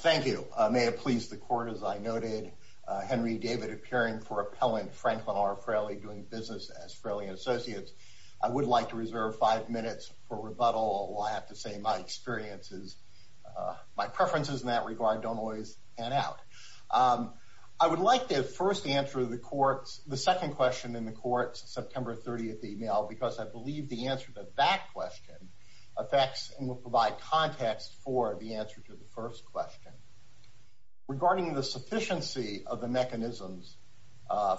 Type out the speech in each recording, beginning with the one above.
Thank you. May it please the court, as I noted, Henry David appearing for appellant Franklin R. Fraley doing business as Fraley & Associates. I would like to reserve five minutes for rebuttal. I have to say my experiences, my preferences in that regard don't always pan out. I would like to first answer the court's, the second question in the court's September 30th email because I context for the answer to the first question. Regarding the sufficiency of the mechanisms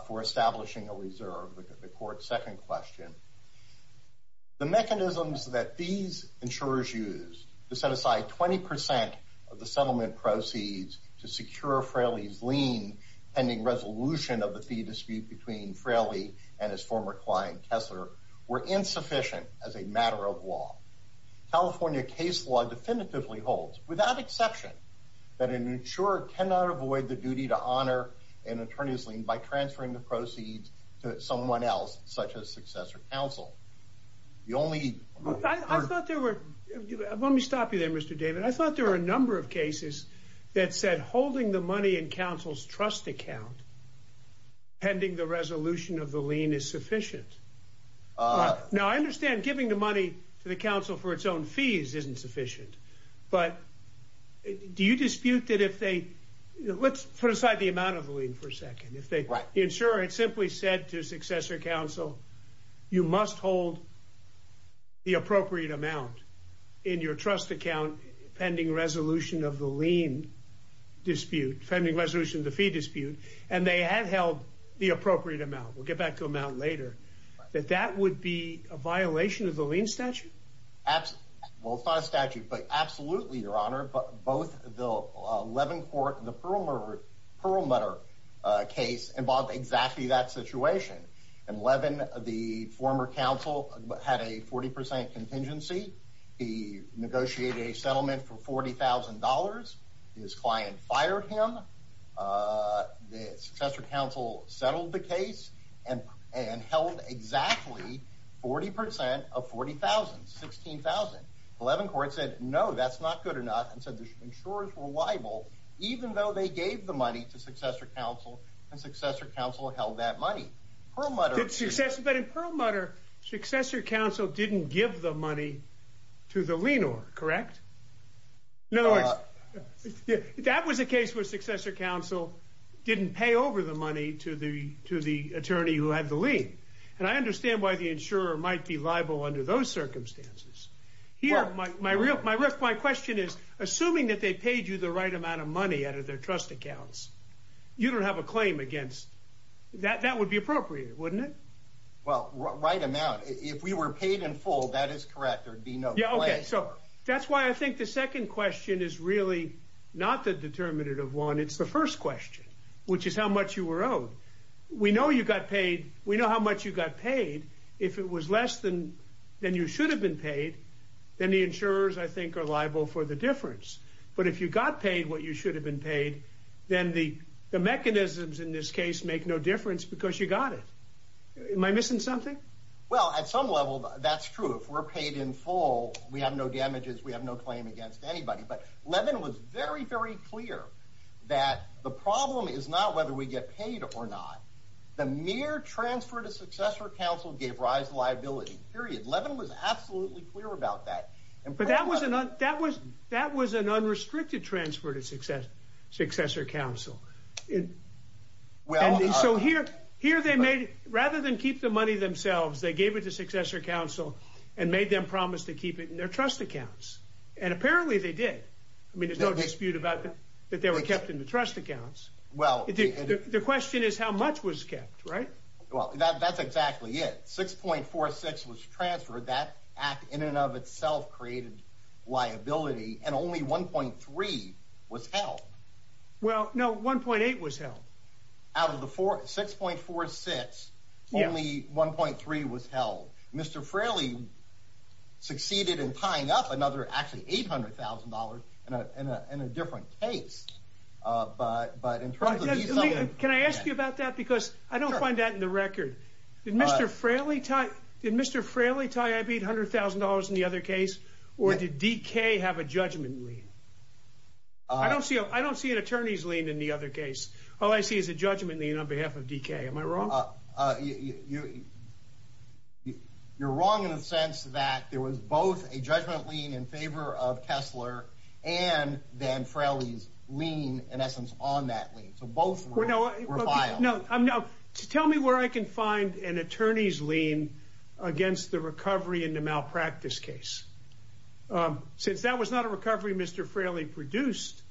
for establishing a reserve, the court's second question, the mechanisms that these insurers use to set aside 20% of the settlement proceeds to secure Fraley's lien pending resolution of the fee dispute between Fraley and his former client Kessler were insufficient as a matter of law. California case law definitively holds without exception that an insurer cannot avoid the duty to honor an attorney's lien by transferring the proceeds to someone else such as successor counsel. The only... I thought there were, let me stop you there Mr. David. I thought there were a number of cases that said holding the money in counsel's trust account pending the resolution of the lien is sufficient. Now I understand giving the money to the counsel for its own fees isn't sufficient, but do you dispute that if they, let's put aside the amount of the lien for a second, if the insurer had simply said to successor counsel you must hold the appropriate amount in your trust account pending resolution of the lien dispute, pending resolution of the fee dispute and they had held the appropriate amount, we'll get back to them out later, that that would be a violation of the lien statute? Absolutely, well it's not a statute, but absolutely your honor, but both the Levin court and the Perlmutter case involved exactly that situation. In Levin, the former counsel had a 40% contingency. He negotiated a settlement for $40,000, his client fired him, the successor counsel settled the case and held exactly 40% of $40,000, $16,000. Levin court said no, that's not good enough and said the insurers were liable even though they gave the money to successor counsel and successor counsel held that money. Perlmutter... But in Perlmutter, successor counsel didn't give the money to the lienor, correct? In other words, that was a case where successor counsel didn't pay over the money to the attorney who had the lien and I understand why the insurer might be liable under those circumstances. My question is, assuming that they paid you the right amount of money out of their trust accounts, you don't have a claim against, that would be appropriate, wouldn't it? Well, right amount, if we were paid in full, that is correct, there'd be no claim. Okay, so that's why I think the second question is really not the determinative one, it's the first question, which is how much you were owed. We know you got paid, we know how much you got paid. If it was less than you should have been paid, then the insurers I think are liable for the difference. But if you got paid what you should have been paid, then the mechanisms in this case make no difference because you got it. Am I missing something? Well, at some level, that's true. If we're paid in full, we have no damages, we have no claim against anybody. But Levin was very, very clear that the problem is not whether we get paid or not. The mere transfer to successor counsel gave rise to liability, period. Levin was absolutely clear about that. But that was an unrestricted transfer to successor counsel. So here, rather than keep the money themselves, they gave it to successor counsel and made them promise to keep it in their trust accounts. And apparently they did. I mean, there's no dispute that they were kept in the trust accounts. The question is how much was kept, right? Well, that's exactly it. 6.46 was transferred, that act in and of itself created liability, and only 1.3 was held. Well, no, 1.8 was held. Out of the 6.46, only 1.3 was held. Mr. Fraley succeeded in tying up another, actually $800,000 in a different case. But in terms of these- Can I ask you about that? Because I don't find that in the record. Did Mr. Fraley tie up $800,000 in the other case, or did DK have a judgment lien? I don't see an attorney's lien in the other case. All I see is a judgment lien on behalf of DK. Am I wrong? You're wrong in the sense that there was both a judgment lien in favor of Kessler and then Fraley's in essence on that lien. So both were filed. Tell me where I can find an attorney's lien against the recovery in the malpractice case. Since that was not a recovery Mr. Fraley produced,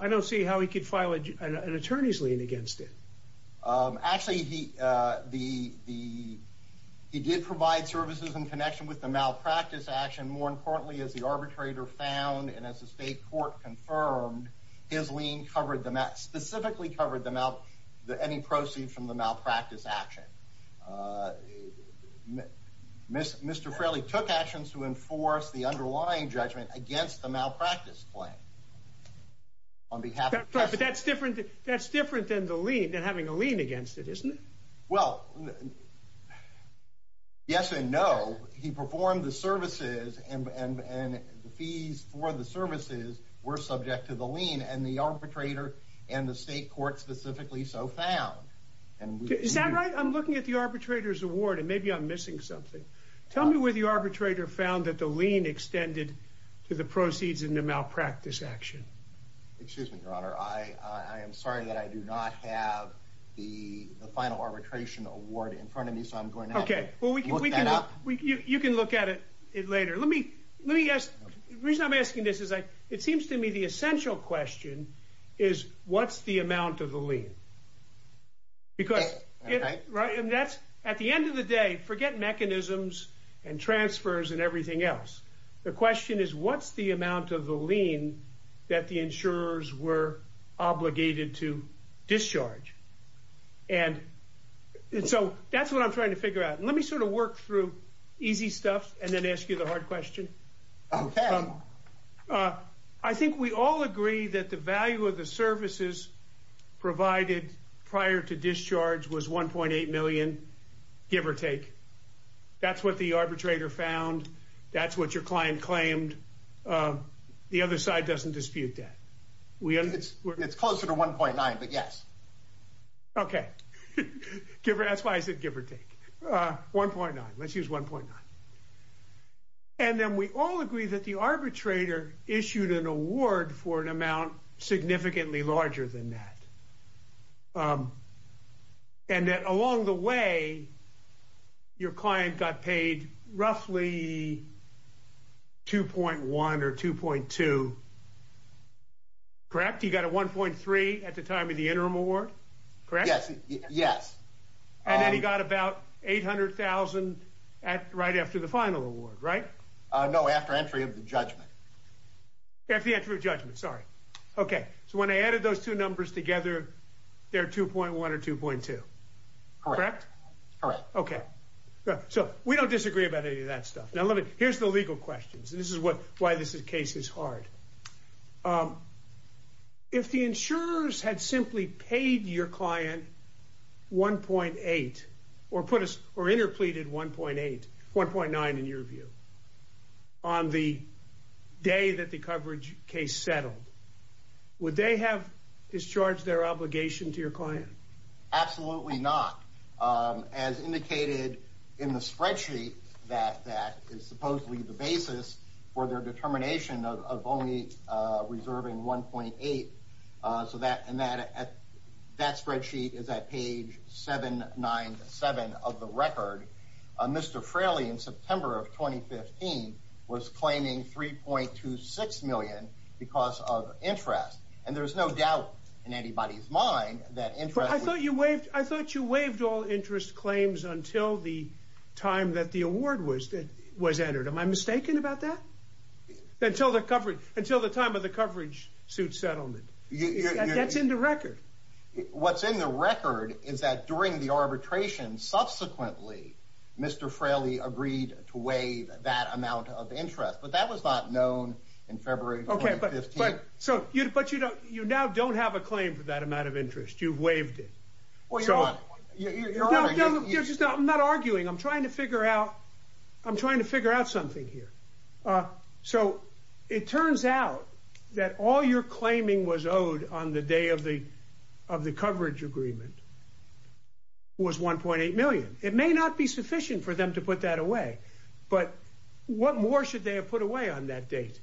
I don't see how he could file an attorney's lien against it. Actually, he did provide services in connection with the malpractice action. More importantly, as the arbitrator found and as the state court confirmed, his lien specifically covered any proceeds from the malpractice action. Mr. Fraley took actions to enforce the underlying judgment against the malpractice claim. But that's different than having a lien against it, isn't it? Well, yes and no. He performed the services and the fees for the services were subject to the lien and the arbitrator and the state court specifically so found. Is that right? I'm looking at the arbitrator's award and maybe I'm missing something. Tell me where the arbitrator found that the lien extended to the proceeds in the malpractice action. Excuse me, your honor. I am sorry that I do not have the final arbitration award in front of me so I'm going to have to look that up. You can look at it later. The reason I'm asking this is it seems to me the essential question is what's the amount of the lien? At the end of the day, forget mechanisms and transfers and everything else. The question is what's the amount of the lien that the insurers were obligated to discharge? And so that's what I'm trying to figure out. Let me sort of work through easy stuff and then ask you the hard question. I think we all agree that the value of the services provided prior to discharge was 1.8 million, give or take. That's what the arbitrator found. That's what your client claimed. The other side doesn't dispute that. It's closer to 1.9, but yes. Okay, that's why I said give or take. 1.9, let's use 1.9. And then we all agree that the arbitrator issued an award for an amount significantly larger than that. And that along the way, your client got paid roughly 2.1 or 2.2, correct? He got a 1.3 at the time of the interim award, correct? Yes. Yes. And then he got about 800,000 right after the final award, right? No, after entry of the judgment. After the entry of judgment, sorry. Okay, so when I added those two numbers together, they're 2.1 or 2.2, correct? Correct. Okay, good. So we don't disagree about any of that stuff. Now, here's the legal questions, and this is why this case is hard. If the insurers had simply paid your client 1.8 or interpleaded 1.8, 1.9 in your view, on the day that the coverage case settled, would they have discharged their obligation to your client? Absolutely not. As indicated in the spreadsheet that is supposedly the basis for their of the record, Mr. Fraley in September of 2015 was claiming 3.26 million because of interest. And there's no doubt in anybody's mind that interest- But I thought you waived all interest claims until the time that the award was entered. Am I mistaken about that? Until the time of the coverage suit settlement. That's in the record. What's in the record is that during the arbitration, subsequently, Mr. Fraley agreed to waive that amount of interest, but that was not known in February 2015. Okay, but you now don't have a claim for that amount of interest. You've waived it. I'm not arguing. I'm trying to figure out something here. So it turns out that all your claiming was owed on the day of the coverage agreement was 1.8 million. It may not be sufficient for them to put that away, but what more should they have put away on that date?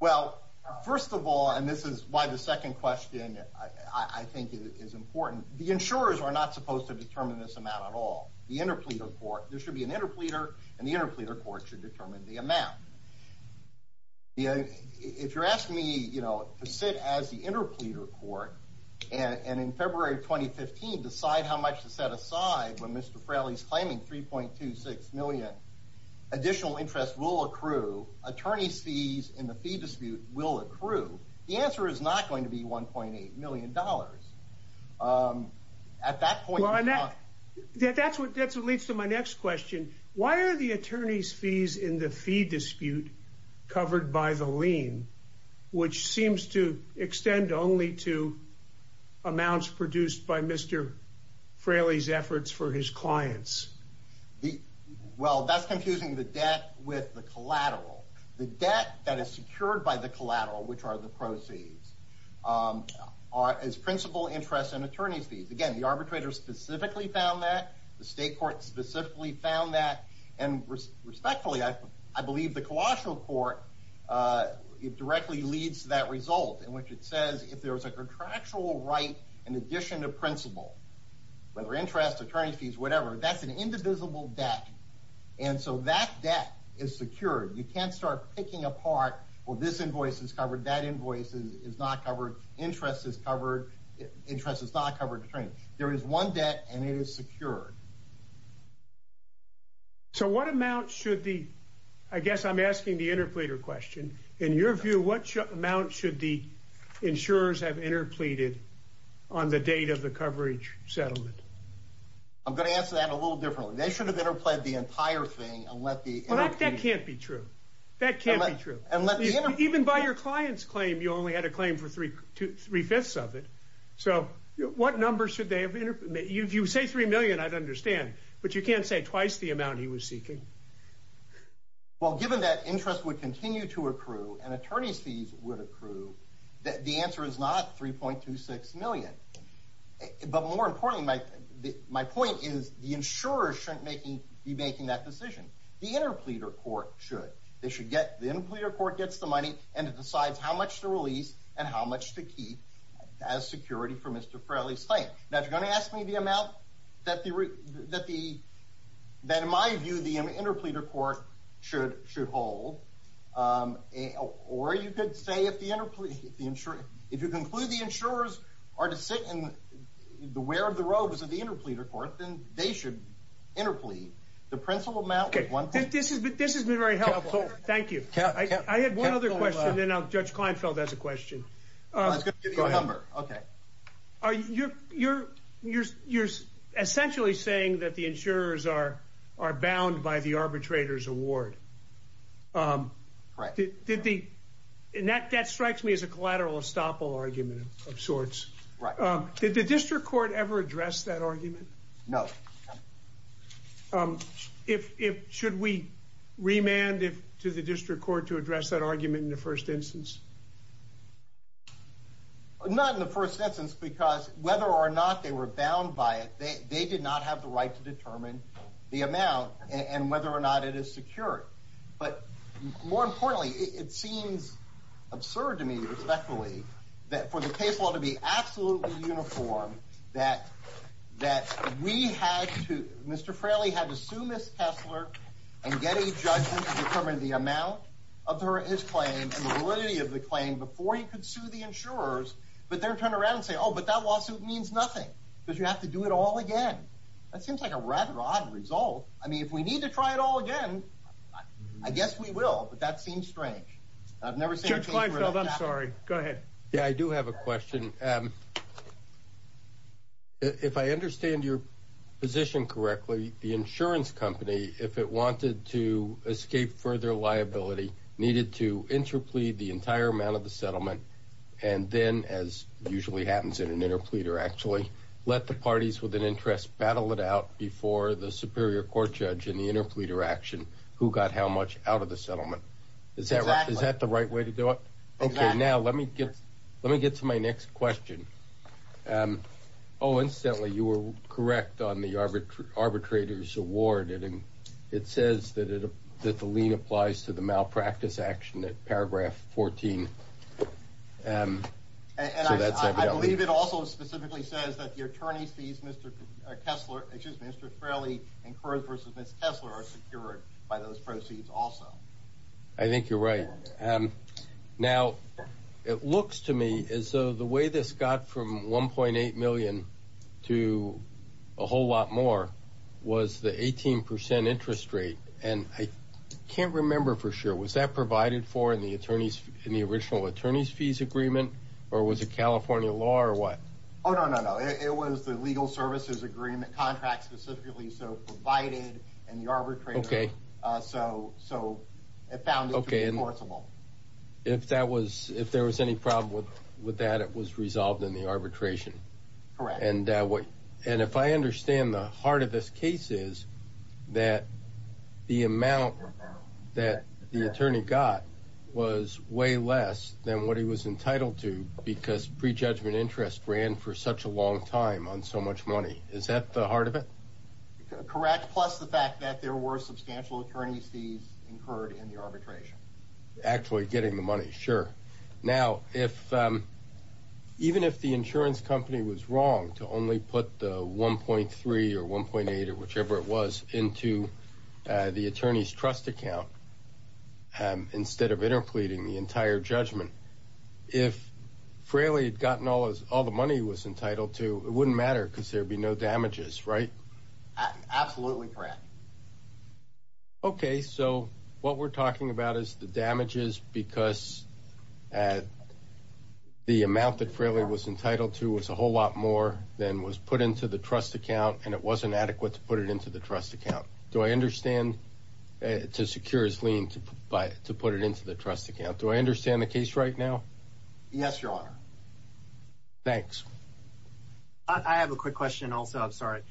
Well, first of all, and this is why the second question I think is important. The insurers are not supposed to determine this amount at all. The interpleader court, there should be an interpleader court and the interpleader court should determine the amount. If you're asking me to sit as the interpleader court and in February 2015 decide how much to set aside when Mr. Fraley's claiming 3.26 million, additional interest will accrue. Attorney's fees in the fee dispute will accrue. The answer is not going to be $1.8 million. At that point, that's what leads to my next question. Why are the attorney's fees in the fee dispute covered by the lien, which seems to extend only to amounts produced by Mr. Fraley's efforts for his clients? Well, that's confusing the debt with the collateral. The debt that is secured by the collateral, which are the proceeds, is principal interest and attorney's fees. Again, the arbitrator specifically found that. The state court specifically found that. And respectfully, I believe the collateral court, it directly leads to that result in which it says if there's a contractual right in addition to principal, whether interest, attorney's fees, whatever, that's an indivisible debt. And so that debt is secured. You can't start picking apart, well, this invoice is covered, that invoice is not covered, interest is covered, interest is not covered attorney. There is one debt and it is secured. So what amount should the, I guess I'm asking the interpleader question, in your view, what amount should the insurers have interpleaded on the date of the coverage settlement? I'm going to answer that a little differently. They should have interplead the entire thing and let the... Well, that can't be true. That can't be true. Even by your client's you only had a claim for three-fifths of it. So what numbers should they have... If you say 3 million, I'd understand, but you can't say twice the amount he was seeking. Well, given that interest would continue to accrue and attorney's fees would accrue, the answer is not 3.26 million. But more importantly, my point is the insurer shouldn't be making that decision. The interpleader court should. They should get, the interpleader court gets the money and it decides how much to release and how much to keep as security for Mr. Fraley's claim. Now, if you're going to ask me the amount that the, in my view, the interpleader court should hold, or you could say if the insurer, if you conclude the insurers are to sit in the wear of the robes of the interpleader court, then they should interplead. The principal amount... Okay, this has been very helpful. Thank you. I had one other question and then I'll... Judge Kleinfeld has a question. I was going to give you a number. Okay. You're essentially saying that the insurers are bound by the arbitrator's award. Right. That strikes me as a collateral estoppel argument of sorts. Right. Did the district court ever address that argument? No. No. Should we remand to the district court to address that argument in the first instance? Not in the first instance because whether or not they were bound by it, they did not have the right to determine the amount and whether or not it is secure. But more importantly, it seems absurd to me, respectfully, that for the case law to be absolutely uniform, that we had to, Mr. Fraley had to sue Ms. Kessler and get a judgment to determine the amount of his claim and the validity of the claim before he could sue the insurers, but then turn around and say, oh, but that lawsuit means nothing because you have to do it all again. That seems like a rather odd result. I mean, if we need to try it all again, I guess we will, but that seems strange. I've never seen... I'm sorry. Go ahead. Yeah, I do have a question. If I understand your position correctly, the insurance company, if it wanted to escape further liability, needed to interplead the entire amount of the settlement and then, as usually happens in an interpleader actually, let the parties with an interest battle it out before the superior court judge in the interpleader action who got how much out of the settlement. Is that the right way to do it? Okay, now let me get to my next question. Oh, incidentally, you were correct on the arbitrator's award. It says that the lien applies to the malpractice action at paragraph 14. So that's evident. I believe it also specifically says that the attorney sees Mr. Kessler, excuse me, Mr. Fraley and Kurz versus Ms. Kessler are secured by those and now it looks to me as though the way this got from 1.8 million to a whole lot more was the 18% interest rate and I can't remember for sure was that provided for in the attorneys in the original attorneys fees agreement or was it California law or what? Oh, no, no, no. It was the legal courts law. If that was, if there was any problem with that, it was resolved in the arbitration. And if I understand the heart of this case is that the amount that the attorney got was way less than what he was entitled to because prejudgment interest ran for such a long time on so much money. Is that the heart of it? Correct. Plus the fact that there were substantial attorneys fees incurred in the arbitration. Actually getting the money. Sure. Now, if even if the insurance company was wrong to only put the 1.3 or 1.8 or whichever it was into the attorney's trust account instead of interpleading the entire judgment, if Fraley had gotten all the money he was entitled to, it wouldn't matter because there'd be no damages, right? Absolutely correct. Okay. So what we're talking about is the damages because at the amount that Fraley was entitled to was a whole lot more than was put into the trust account and it wasn't adequate to put it into the trust account. Do I understand to secure his lien to buy, to put it into the trust account? Do I understand the case right now? Yes, your honor. Thanks. I have a quick question also. I'm sorry.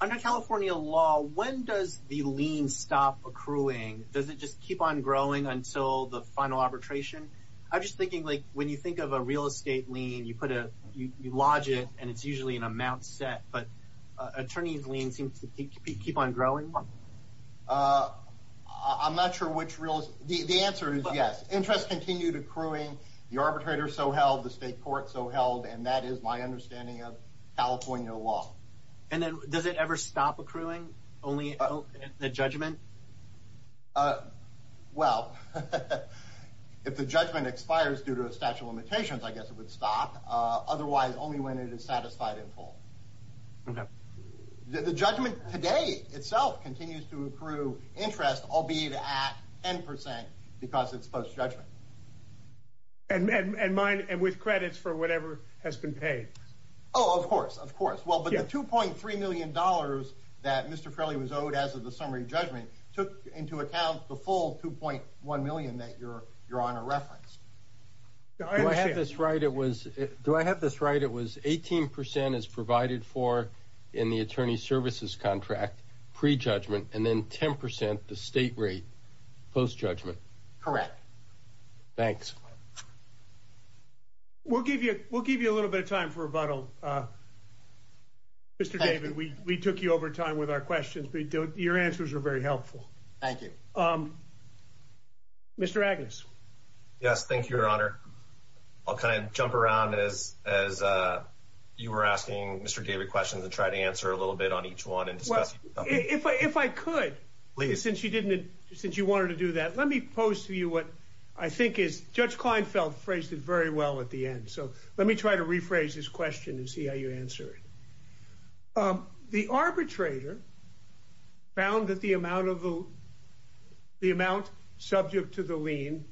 Under California law, when does the lien stop accruing? Does it just keep on growing until the final arbitration? I'm just thinking like when you think of a real estate lien, you put a, you lodge it and it's usually an amount set, but attorney's lien seems to keep on growing. I'm not sure which real, the answer is yes. Interest continued accruing, the arbitrator so and that is my understanding of California law. And then does it ever stop accruing only the judgment? Well, if the judgment expires due to a statute of limitations, I guess it would stop. Otherwise only when it is satisfied and full. Okay. The judgment today itself continues to accrue interest, albeit at 10% because it's post-judgment. And mine, and with credits for whatever has been paid. Oh, of course, of course. Well, but the $2.3 million that Mr. Frehley was owed as of the summary judgment took into account the full 2.1 million that you're, your honor referenced. Do I have this right? It was, do I have this right? It was 18% as provided for in the attorney services contract pre-judgment and then 10% the state rate post-judgment. Correct. Thanks. We'll give you, we'll give you a little bit of time for rebuttal. Mr. David, we, we took you over time with our questions, but your answers are very helpful. Thank you. Mr. Agnes. Yes. Thank you, your honor. I'll kind of jump around as, as you were asking Mr. David questions and try to answer a little bit on each one and discuss. If I, if I could, since you didn't, since you wanted to do that, let me pose to you what I think is, Judge Kleinfeld phrased it very well at the end. So let me try to rephrase this question and see how you answer it. The arbitrator found that the amount of the, the amount subject to the lien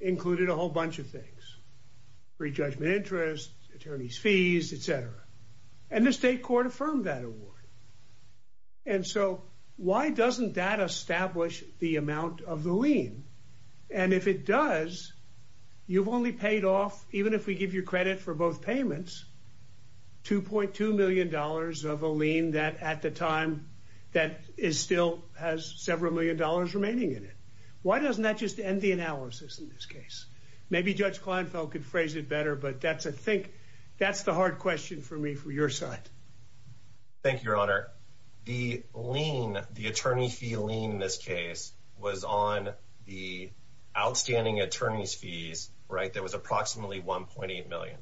included a whole bunch of things, pre-judgment interest, attorney's fees, et cetera. And the state court affirmed that award. And so why doesn't that establish the amount of the lien? And if it does, you've only paid off, even if we give you credit for both payments, $2.2 million of a lien that at the time that is still has several million dollars remaining in it. Why doesn't that just end the analysis in this case? Maybe Judge Kleinfeld could phrase it for me for your side. Thank you, your honor. The lien, the attorney fee lien in this case was on the outstanding attorney's fees, right? There was approximately 1.8 million.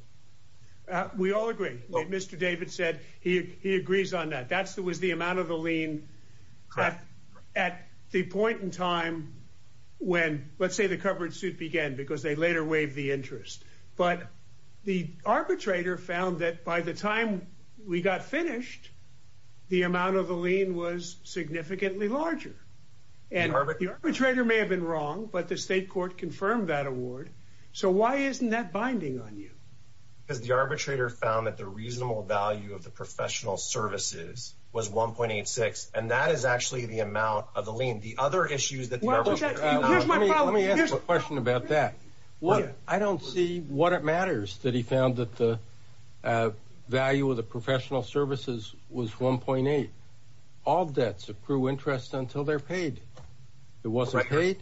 We all agree. Mr. David said he, he agrees on that. That's the, was the amount of the lien at the point in time when let's say the covered suit began because they later waived the interest. But the arbitrator found that by the time we got finished, the amount of the lien was significantly larger. And the arbitrator may have been wrong, but the state court confirmed that award. So why isn't that binding on you? Because the arbitrator found that the reasonable value of the professional services was 1.86. And that is actually the amount of the lien. The other what it matters that he found that the value of the professional services was 1.8. All debts accrue interest until they're paid. It wasn't paid.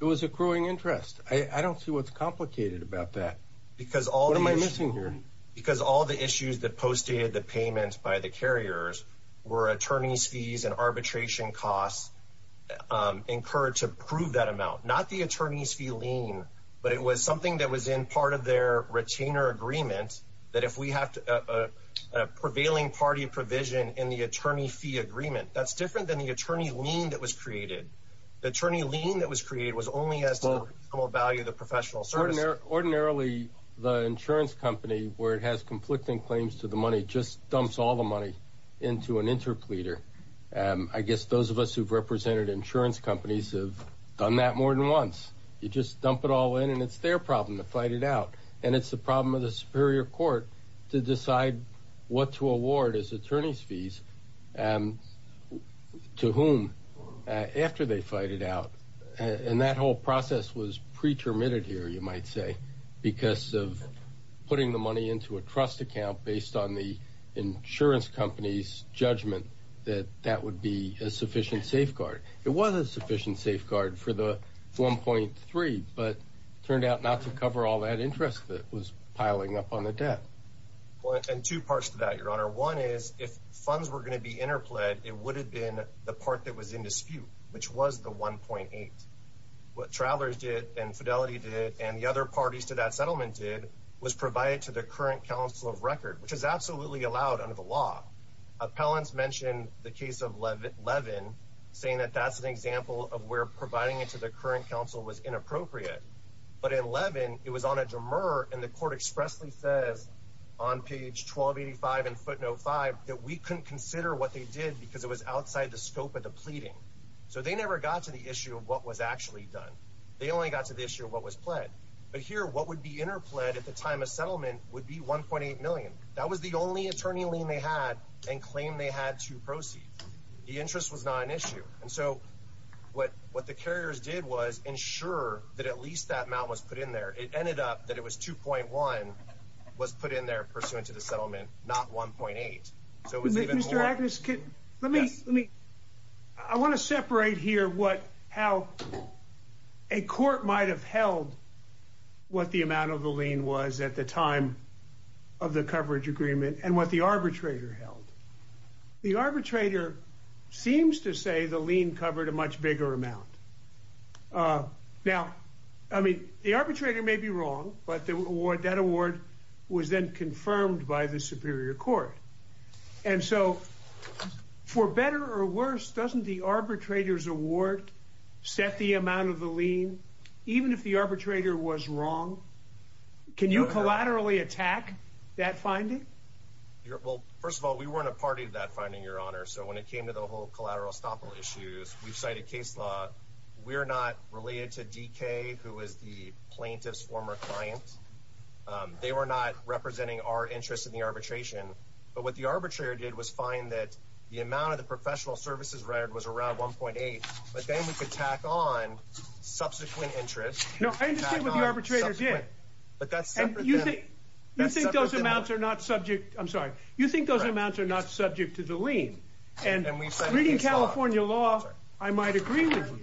It was accruing interest. I don't see what's complicated about that. Because all am I missing here? Because all the issues that postdated the payments by the carriers were attorney's fees and arbitration costs incurred to prove that amount, not the attorney's fee lien, but it was something that was in part their retainer agreement, that if we have a prevailing party provision in the attorney fee agreement, that's different than the attorney lien that was created. The attorney lien that was created was only as to what value the professional service. Ordinarily, the insurance company where it has conflicting claims to the money just dumps all the money into an interpleader. I guess those of us who've represented insurance companies have done that more than once. You just and it's the problem of the superior court to decide what to award as attorney's fees to whom after they fight it out. And that whole process was pretermitted here, you might say, because of putting the money into a trust account based on the insurance company's judgment that that would be a sufficient safeguard. It was a sufficient safeguard for the 1.3, but turned out to cover all that interest that was piling up on the debt. Well, and two parts to that, Your Honor. One is if funds were going to be interpled, it would have been the part that was in dispute, which was the 1.8. What Travelers did and Fidelity did and the other parties to that settlement did was provide it to the current council of record, which is absolutely allowed under the law. Appellants mentioned the case of Levin saying that that's an example of where providing it to the current council was inappropriate. But in Levin, it was on a dremur and the court expressly says on page 1285 in footnote five that we couldn't consider what they did because it was outside the scope of the pleading. So they never got to the issue of what was actually done. They only got to the issue of what was pled. But here, what would be interpled at the time of settlement would be 1.8 million. That was the only attorney lien they had and claim they had to proceed. The interest was not an issue. And so what the carriers did was ensure that at least that amount was put in there. It ended up that it was 2.1 was put in there pursuant to the settlement, not 1.8. Mr. Agnes, I want to separate here how a court might have held what the amount of the lien was at the time of the coverage agreement and what the arbitrator held. The arbitrator seems to say the lien covered a much bigger amount. Now, I mean, the arbitrator may be wrong, but that award was then confirmed by the superior court. And so for better or worse, doesn't the arbitrator's award set the amount of the lien, even if the arbitrator was wrong? Can you collaterally attack that finding? Well, first of all, we weren't a party to that finding, Your Honor. So when it came to the whole collateral estoppel issues, we've cited case law. We're not related to DK, who was the plaintiff's former client. They were not representing our interest in the arbitration. But what the arbitrator did was find that the amount of the professional services record was around 1.8. But then we could tack on subsequent interest. No, I understand what the arbitrator did. And you think those amounts are not subject, I'm sorry, you think those amounts are not subject to the lien. And reading California law, I might agree with you.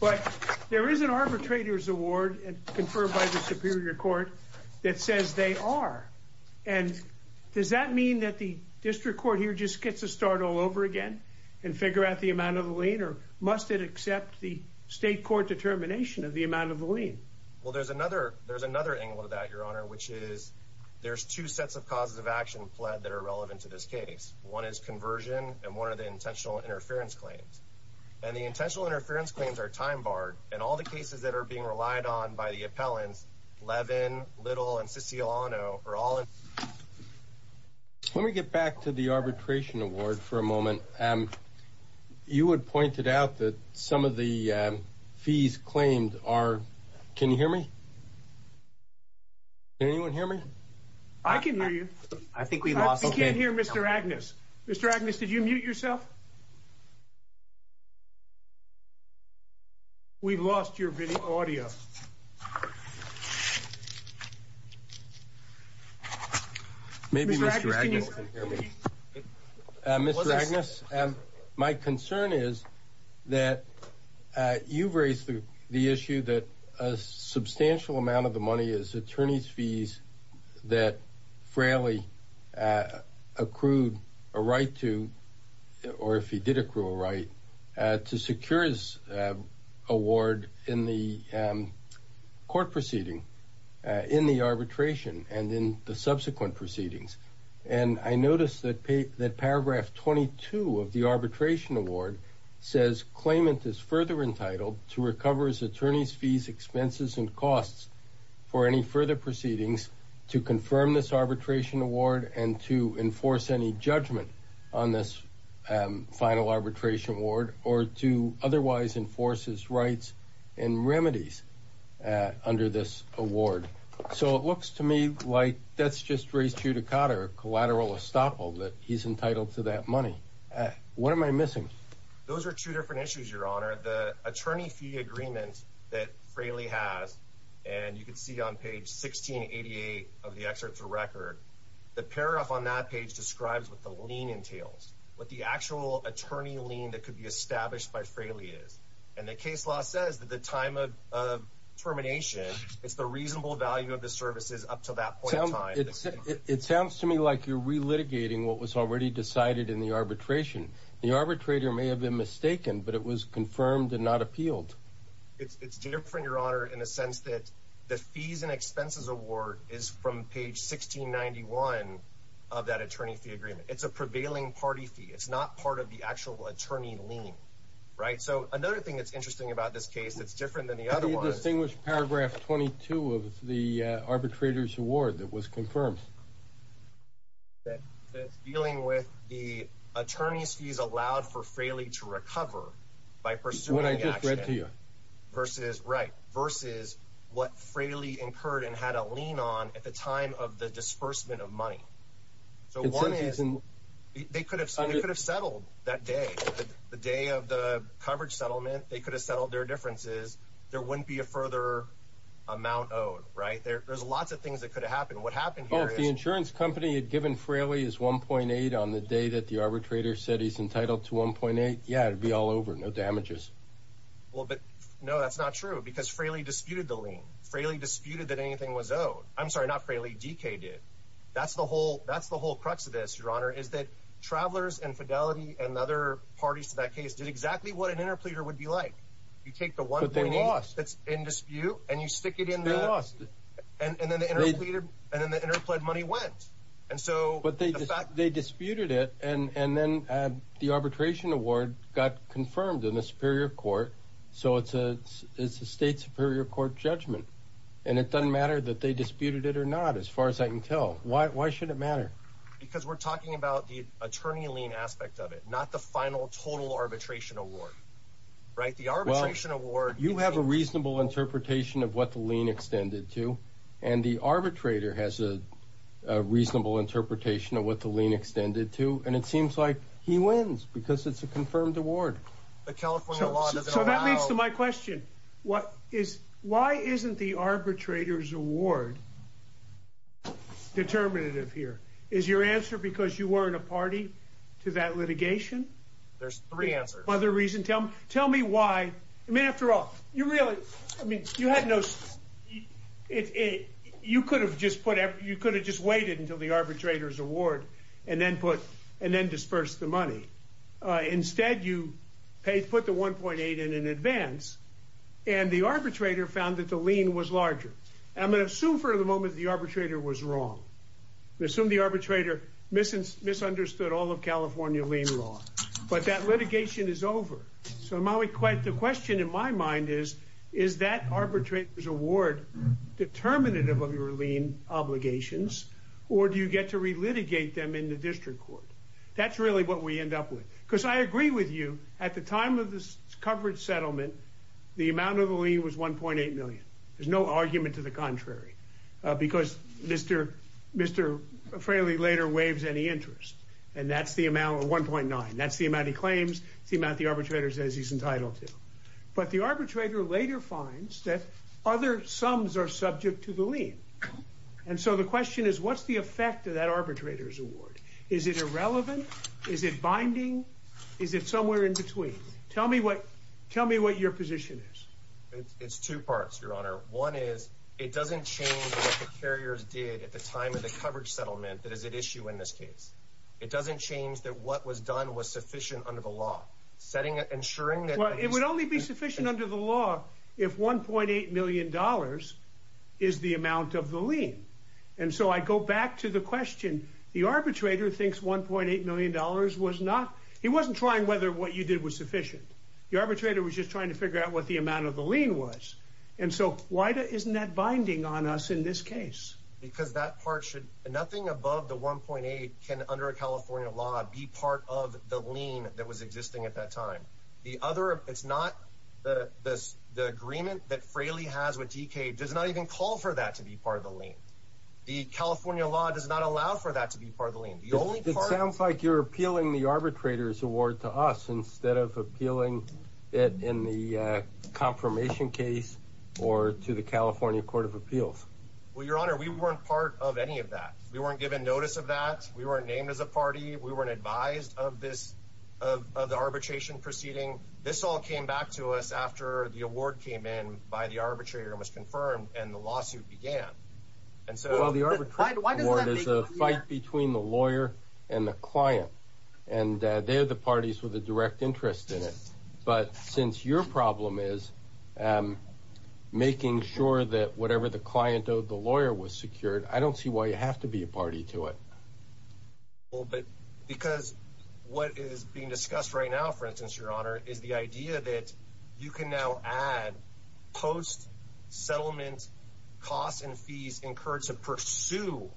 But there is an arbitrator's award and conferred by the superior court that says they are. And does that mean that the district court here just gets to start all over again and figure out the amount of the lien? Or must it accept the state court determination of the amount of the lien? Well, there's another angle to that, Your Honor, which is there's two sets of causes of action pled that are relevant to this case. One is conversion and one of the intentional interference claims. And the intentional interference claims are time barred. And all the cases that are being relied on by the appellants, Levin, Little, and Siciliano are all. Let me get back to the arbitration award for a moment. And you had pointed out that some of the fees claimed are. Can you hear me? Can anyone hear me? I can hear you. I think we can't hear Mr. Agnes. Mr. Agnes, did you mute me? Mr. Agnes, my concern is that you've raised the issue that a substantial amount of the money is attorney's fees that Fraley accrued a right to or if he did accrue a right to secure his award in the court proceeding, in the arbitration and in the subsequent proceedings. And I noticed that paragraph 22 of the arbitration award says claimant is further entitled to recover his attorney's fees, expenses, and costs for any further proceedings to confirm this arbitration award and to enforce any judgment on this final arbitration award or to otherwise enforce his rights and remedies under this award. So it looks to me like that's just collateral estoppel that he's entitled to that money. What am I missing? Those are two different issues, your honor. The attorney fee agreement that Fraley has, and you can see on page 1688 of the excerpt to record, the paragraph on that page describes what the lien entails, what the actual attorney lien that could be established by Fraley is. And the case law says that the time of termination, it's the reasonable value of the services up to that point in time. It sounds to me like you're relitigating what was already decided in the arbitration. The arbitrator may have been mistaken, but it was confirmed and not appealed. It's different, your honor, in a sense that the fees and expenses award is from page 1691 of that attorney fee agreement. It's a prevailing party fee. It's not part of the actual attorney lien, right? So another thing that's interesting about this case that's different than the other distinguished paragraph 22 of the arbitrator's award that was confirmed. That it's dealing with the attorney's fees allowed for Fraley to recover by pursuing what I just read to you. Versus, right, versus what Fraley incurred and had a lien on at the time of the disbursement of money. So one is, they could have settled that day, the day of the coverage settlement, they could have settled their differences. There wouldn't be a further amount owed, right? There's lots of things that could have happened. What happened here is- If the insurance company had given Fraley his 1.8 on the day that the arbitrator said he's entitled to 1.8, yeah, it'd be all over, no damages. Well, but no, that's not true because Fraley disputed the lien. Fraley disputed that anything was owed. I'm sorry, not Fraley, DK did. That's the whole crux of this, your honor, is that an interpleader would be like, you take the 1.8 that's in dispute and you stick it in the- They lost it. And then the interpleaded money went. And so- But they disputed it and then the arbitration award got confirmed in the superior court, so it's a state superior court judgment. And it doesn't matter that they disputed it or not, as far as I can tell. Why should it matter? Because we're talking about the attorney lien aspect of it, not the final total arbitration award, right? The arbitration award- You have a reasonable interpretation of what the lien extended to, and the arbitrator has a reasonable interpretation of what the lien extended to, and it seems like he wins because it's a confirmed award. The California law doesn't allow- So that leads to my question. Why isn't the arbitrator's award determinative here? Is your answer because you weren't a party to that litigation? There's three answers. Tell me why. I mean, after all, you really- You could have just waited until the arbitrator's award and then disperse the money. Instead, you put the 1.8 in in advance, and the arbitrator found that the lien was larger. I'm going to assume for the moment the arbitrator was wrong. I assume the arbitrator misunderstood all of California lien law. But that litigation is over. So the question in my mind is, is that arbitrator's award determinative of your lien obligations, or do you get to relitigate them in the district court? That's really what we end up with. Because I agree with you. At the time of this coverage settlement, the amount of the lien was 1.8 million. There's no argument to the contrary. Because Mr. Fraley later waives any interest, and that's the amount of 1.9. That's the amount he claims, the amount the arbitrator says he's entitled to. But the arbitrator later finds that other sums are subject to the lien. And so the question is, what's the effect of that arbitrator's award? Is it irrelevant? Is it binding? Is it somewhere in between? Tell me what your position is. It's two parts, Your Honor. One is, it doesn't change what the carriers did at the time of the coverage settlement that is at issue in this case. It doesn't change that what was done was sufficient under the law. It would only be sufficient under the law if $1.8 million is the amount of the lien. And so I go back to the question. The arbitrator thinks $1.8 million was not... He wasn't trying whether what you did was sufficient. The arbitrator was just trying to figure out what the amount of the lien was. And so why isn't that binding on us in this case? Because that part should... Nothing above the $1.8 million can, under a California law, be part of the lien that was existing at that time. The other... It's not... The agreement that Fraley has with DK does not even call for that to be part of the lien. The California law does not allow for that to be part of the lien. The only part... It sounds like you're appealing the arbitrator's award to us instead of appealing it in the confirmation case or to the California Court of Appeals. Well, Your Honor, we weren't part of any of that. We weren't given notice of that. We weren't named as a party. We weren't advised of the arbitration proceeding. This all came back to us after the award came in by the arbitrator and was confirmed and the lawsuit began. And so... Well, the arbitration award is a fight between the lawyer and the client. And they're the parties with a direct interest in it. But since your problem is making sure that whatever the client owed the lawyer was secured, I don't see why you have to be a party to it. Because what is being discussed right now, for instance, Your Honor, is the idea that you can now add post-settlement costs and fees encouraged to pursue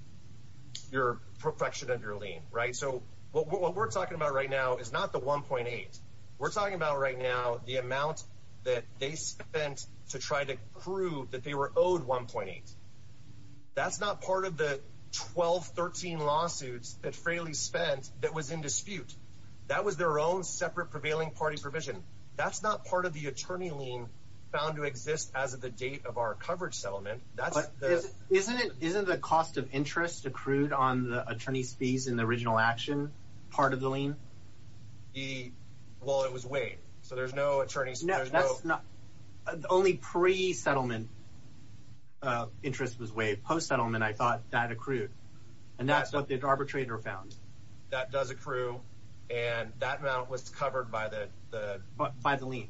your perfection of your lien, right? So what we're talking about right now is not the 1.8. We're talking about right now the amount that they spent to try to prove that they were owed 1.8. That's not part of the 12, 13 lawsuits that Fraley spent that was in dispute. That was their own separate prevailing party provision. That's not part of the attorney lien found to exist as of the date of our coverage settlement. But isn't the cost of interest accrued on the attorney's fees in the original action part of the lien? The... well, it was waived. So there's no attorney's... No, that's not... the only pre-settlement interest was waived. Post-settlement, I thought that accrued. And that's what the arbitrator found. That does accrue. And that amount was covered by the... By the lien.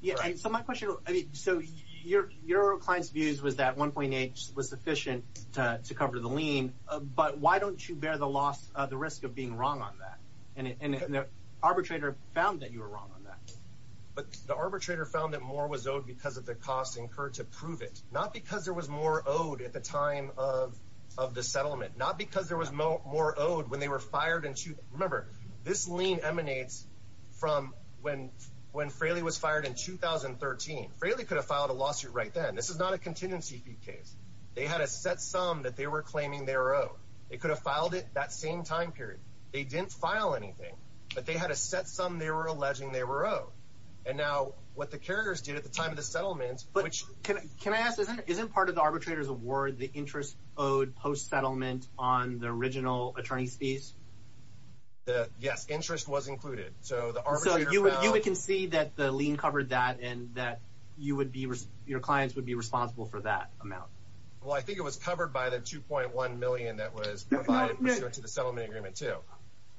Yeah, so my question... So your client's views was that 1.8 was sufficient to cover the lien. But why don't you bear the risk of being wrong on that? And the arbitrator found that you were wrong on that. But the arbitrator found that more was owed because of the cost incurred to prove it. Not because there was more owed at the time of the settlement. Not because there was more owed when they were fired in... Remember, this lien emanates from when Fraley was fired in 2013. Fraley could have filed a lawsuit right then. This is not a contingency fee case. They had a set sum that they were claiming they were owed. They could have filed it that same time period. They didn't file anything. But they had a set sum they were alleging they were owed. And now what the carriers did at the time of the settlement... But can I ask, isn't part of the arbitrator's award the interest owed post-settlement on the original attorney's fees? Yes, interest was included. So the arbitrator found... So you would concede that the lien covered that and that your clients would be responsible for that amount. Well, I think it was covered by the 2.1 million that was provided pursuant to the settlement agreement, too.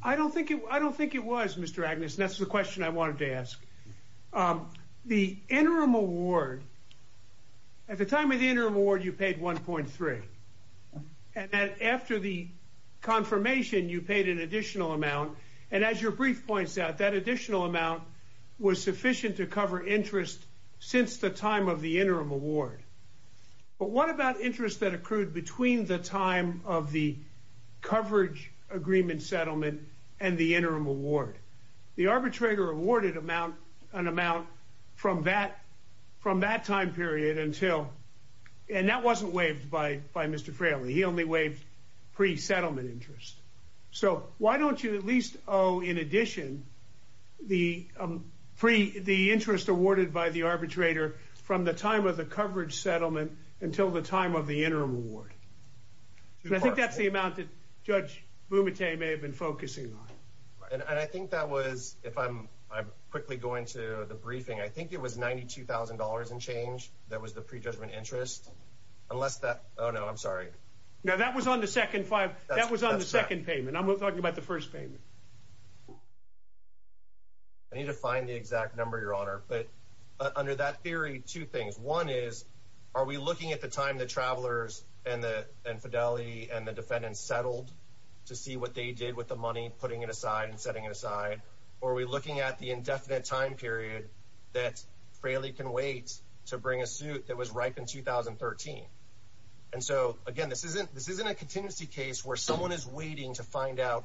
I don't think it was, Mr. Agnes. That's the question I wanted to ask. The interim award... At the time of the interim award, you paid 1.3. And then after the confirmation, you paid an additional amount. And as your brief points out, that additional amount was sufficient to cover interest since the time of the interim award. But what about interest that accrued between the time of the coverage agreement settlement and the interim award? The arbitrator awarded an amount from that time period until... And that wasn't waived by Mr. Fraley. He only waived pre-settlement interest. So why don't you at least owe, in addition, the interest awarded by the arbitrator from the time of the coverage settlement until the time of the interim award? I think that's the amount that Judge Bumate may have been focusing on. And I think that was, if I'm quickly going to the briefing, I think it was $92,000 and change that was the pre-judgment interest. Unless that... Oh, no, I'm sorry. No, that was on the second payment. I'm talking about the first payment. I need to find the exact number, Your Honor. But under that theory, two things. One is, are we looking at the time the travelers and Fidelity and the defendants settled to see what they did with the money, putting it aside and setting it aside? Or are we looking at the indefinite time period that Fraley can wait to bring a suit that was ripe in 2013? And so, again, this isn't a contingency case where someone is waiting to find out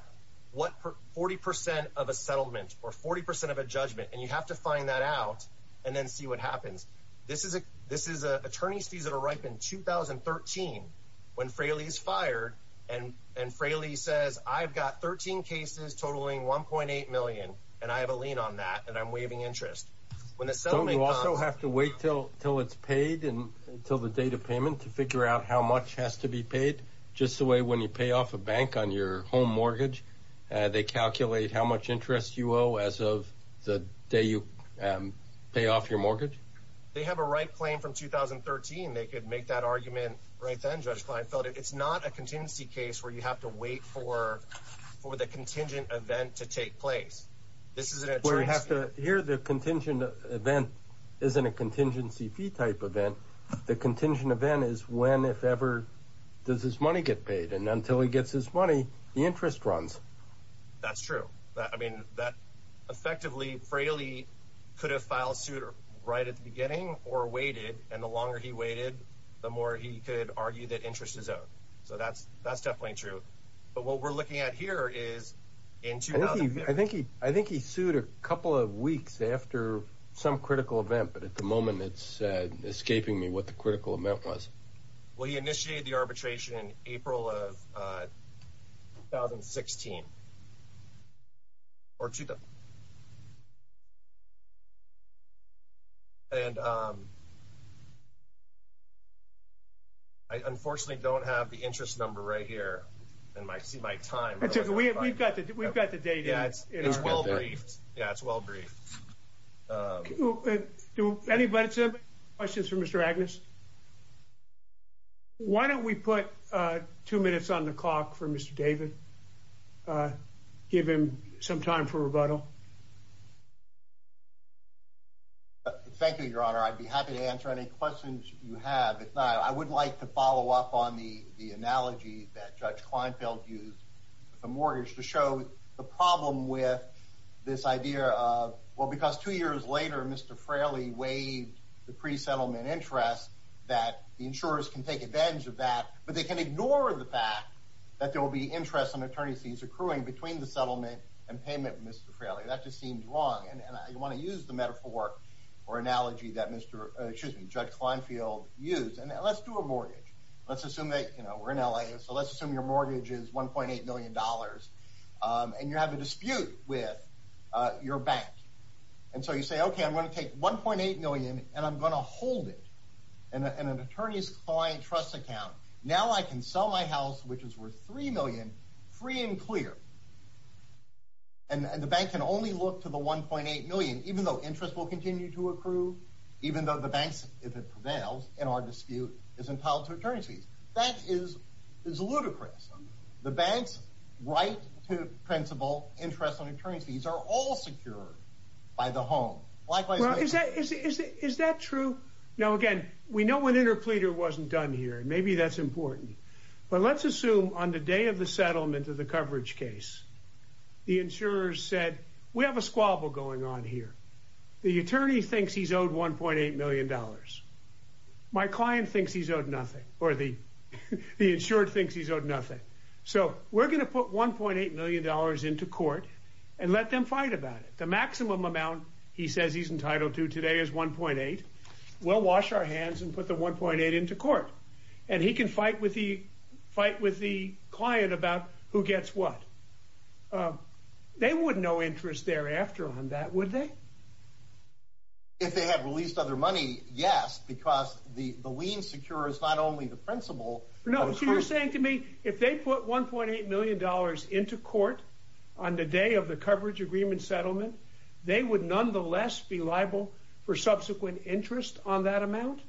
what 40% of a settlement or 40% of a judgment. And you have to find that out and then see what happens. This is an attorney's fees that are ripe in 2013 when Fraley is fired and Fraley says, I've got 13 cases totaling $1.8 million and I have a lien on that and I'm waiving interest. When the settlement comes... Don't you also have to wait till it's paid and until the date of payment to figure out how much has to be paid? Just the way when you pay off a bank on your home mortgage, they calculate how much interest you owe as of the day you pay off your mortgage? They have a right claim from 2013. They could make that argument right then, Judge Kleinfeld. It's not a contingency case where you have to wait for the contingent event to take place. This is an attorney's... Where you have to... Here, the contingent event isn't a contingency fee type event. The contingent event is when, if ever, does his money get paid. And until he gets his money, the interest runs. That's true. Effectively, Fraley could have filed suit right at the beginning or waited. And the longer he waited, the more he could argue that interest is owed. So that's definitely true. But what we're looking at here is... I think he sued a couple of weeks after some critical event. But at the moment, it's escaping me what the critical event was. Well, he initiated the arbitration in April of 2016. And I unfortunately don't have the interest number right here in my time. We've got the data. Yeah, it's well briefed. Yeah, it's well briefed. Do anybody have any questions for Mr. Agnes? Why don't we put two minutes on the clock for Mr. David? Give him some time for rebuttal. Thank you, Your Honor. I'd be happy to answer any questions you have. If not, I would like to follow up on the analogy that Judge Kleinfeld used with the mortgage to show the problem with this idea of... Well, because two years later, Mr. Fraley waived the pre-settlement interest that the insurers can take advantage of that. But they can ignore the fact that there will be interest on attorney's fees accruing between the settlement and payment with Mr. Fraley. That just seems wrong. And I want to use the metaphor or analogy that Judge Kleinfeld used. And let's do a mortgage. Let's assume that we're in LA. So let's assume your mortgage is $1.8 million. And you have a dispute with your bank. And so you say, OK, I'm going to take $1.8 million and I'm going to hold it. And an attorney's client trust account. Now I can sell my house, which is worth $3 million, free and clear. And the bank can only look to the $1.8 million, even though interest will continue to accrue, even though the bank, if it prevails in our dispute, is entitled to attorney's fees. That is ludicrous. The bank's right to principal interest on attorney's fees are all secured by the home. Is that true? Now, again, we know an interpleader wasn't done here. Maybe that's important. But let's assume on the day of the settlement of the coverage case, the insurers said, we have a squabble going on here. The attorney thinks he's owed $1.8 million. My client thinks he's owed nothing or the insured thinks he's owed nothing. So we're going to put $1.8 million into court and let them fight about it. The maximum amount he says he's entitled to today is $1.8. We'll wash our hands and put the $1.8 into court. And he can fight with the client about who gets what. They would know interest thereafter on that, would they? If they had released other money, yes, because the lien secure is not only the principal. No, so you're saying to me, if they put $1.8 million into court on the day of the coverage agreement settlement, they would nonetheless be liable for subsequent interest on that amount?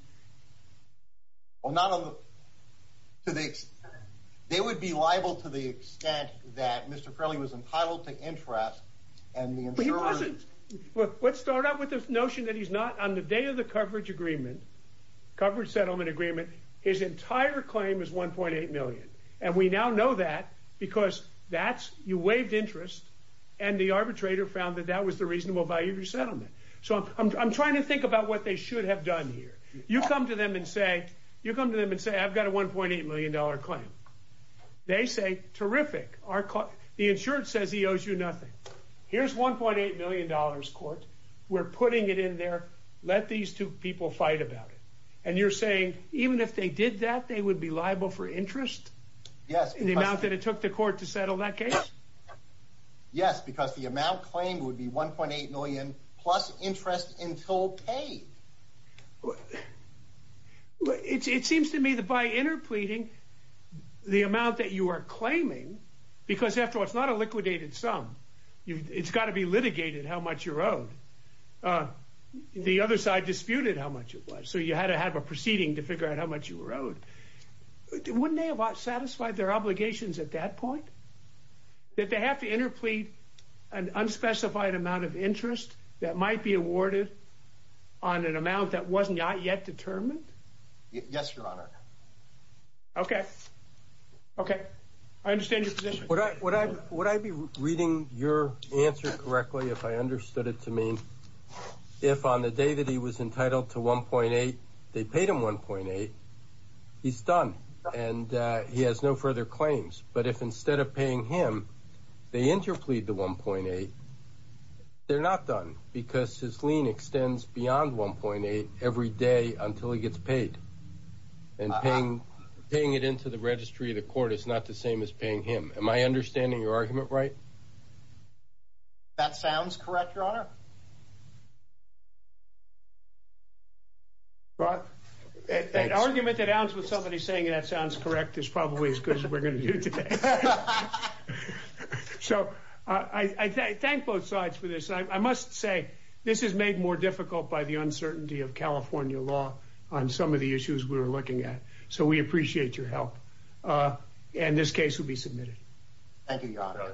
They would be liable to the extent that Mr. Crowley was entitled to interest. Let's start out with this notion that he's not on the day of the coverage agreement, coverage settlement agreement. His entire claim is $1.8 million. And we now know that because you waived interest and the arbitrator found that that was the reasonable value of your settlement. So I'm trying to think about what they should have done here. You come to them and say, I've got a $1.8 million claim. They say, terrific. The insurance says he owes you nothing. Here's $1.8 million court. We're putting it in there. Let these two people fight about it. And you're saying, even if they did that, they would be liable for interest? Yes. In the amount that it took the court to settle that case? Yes, because the amount claimed would be $1.8 million plus interest until paid. It seems to me that by interpleading the amount that you are claiming, because after all, it's not a liquidated sum. It's got to be litigated how much you're owed. The other side disputed how much it was. So you had to have a proceeding to figure out how much you were owed. Wouldn't they have satisfied their obligations at that point? Did they have to interplead an unspecified amount of interest that might be awarded on an amount that was not yet determined? Yes, Your Honor. Okay. Okay. I understand your position. Would I be reading your answer correctly if I understood it to mean if on the day that he was entitled to $1.8, they paid him $1.8, he's done. And he has no further claims. But if instead of paying him, they interplead the $1.8, they're not done because his lien extends beyond $1.8 every day until he gets paid. And paying it into the registry of the court is not the same as paying him. Am I understanding your argument right? That sounds correct, Your Honor. An argument that ends with somebody saying that sounds correct is probably as good as we're going to do today. So I thank both sides for this. I must say this is made more difficult by the uncertainty of California law on some of the issues we were looking at. So we appreciate your help. And this case will be submitted. Thank you, Your Honor.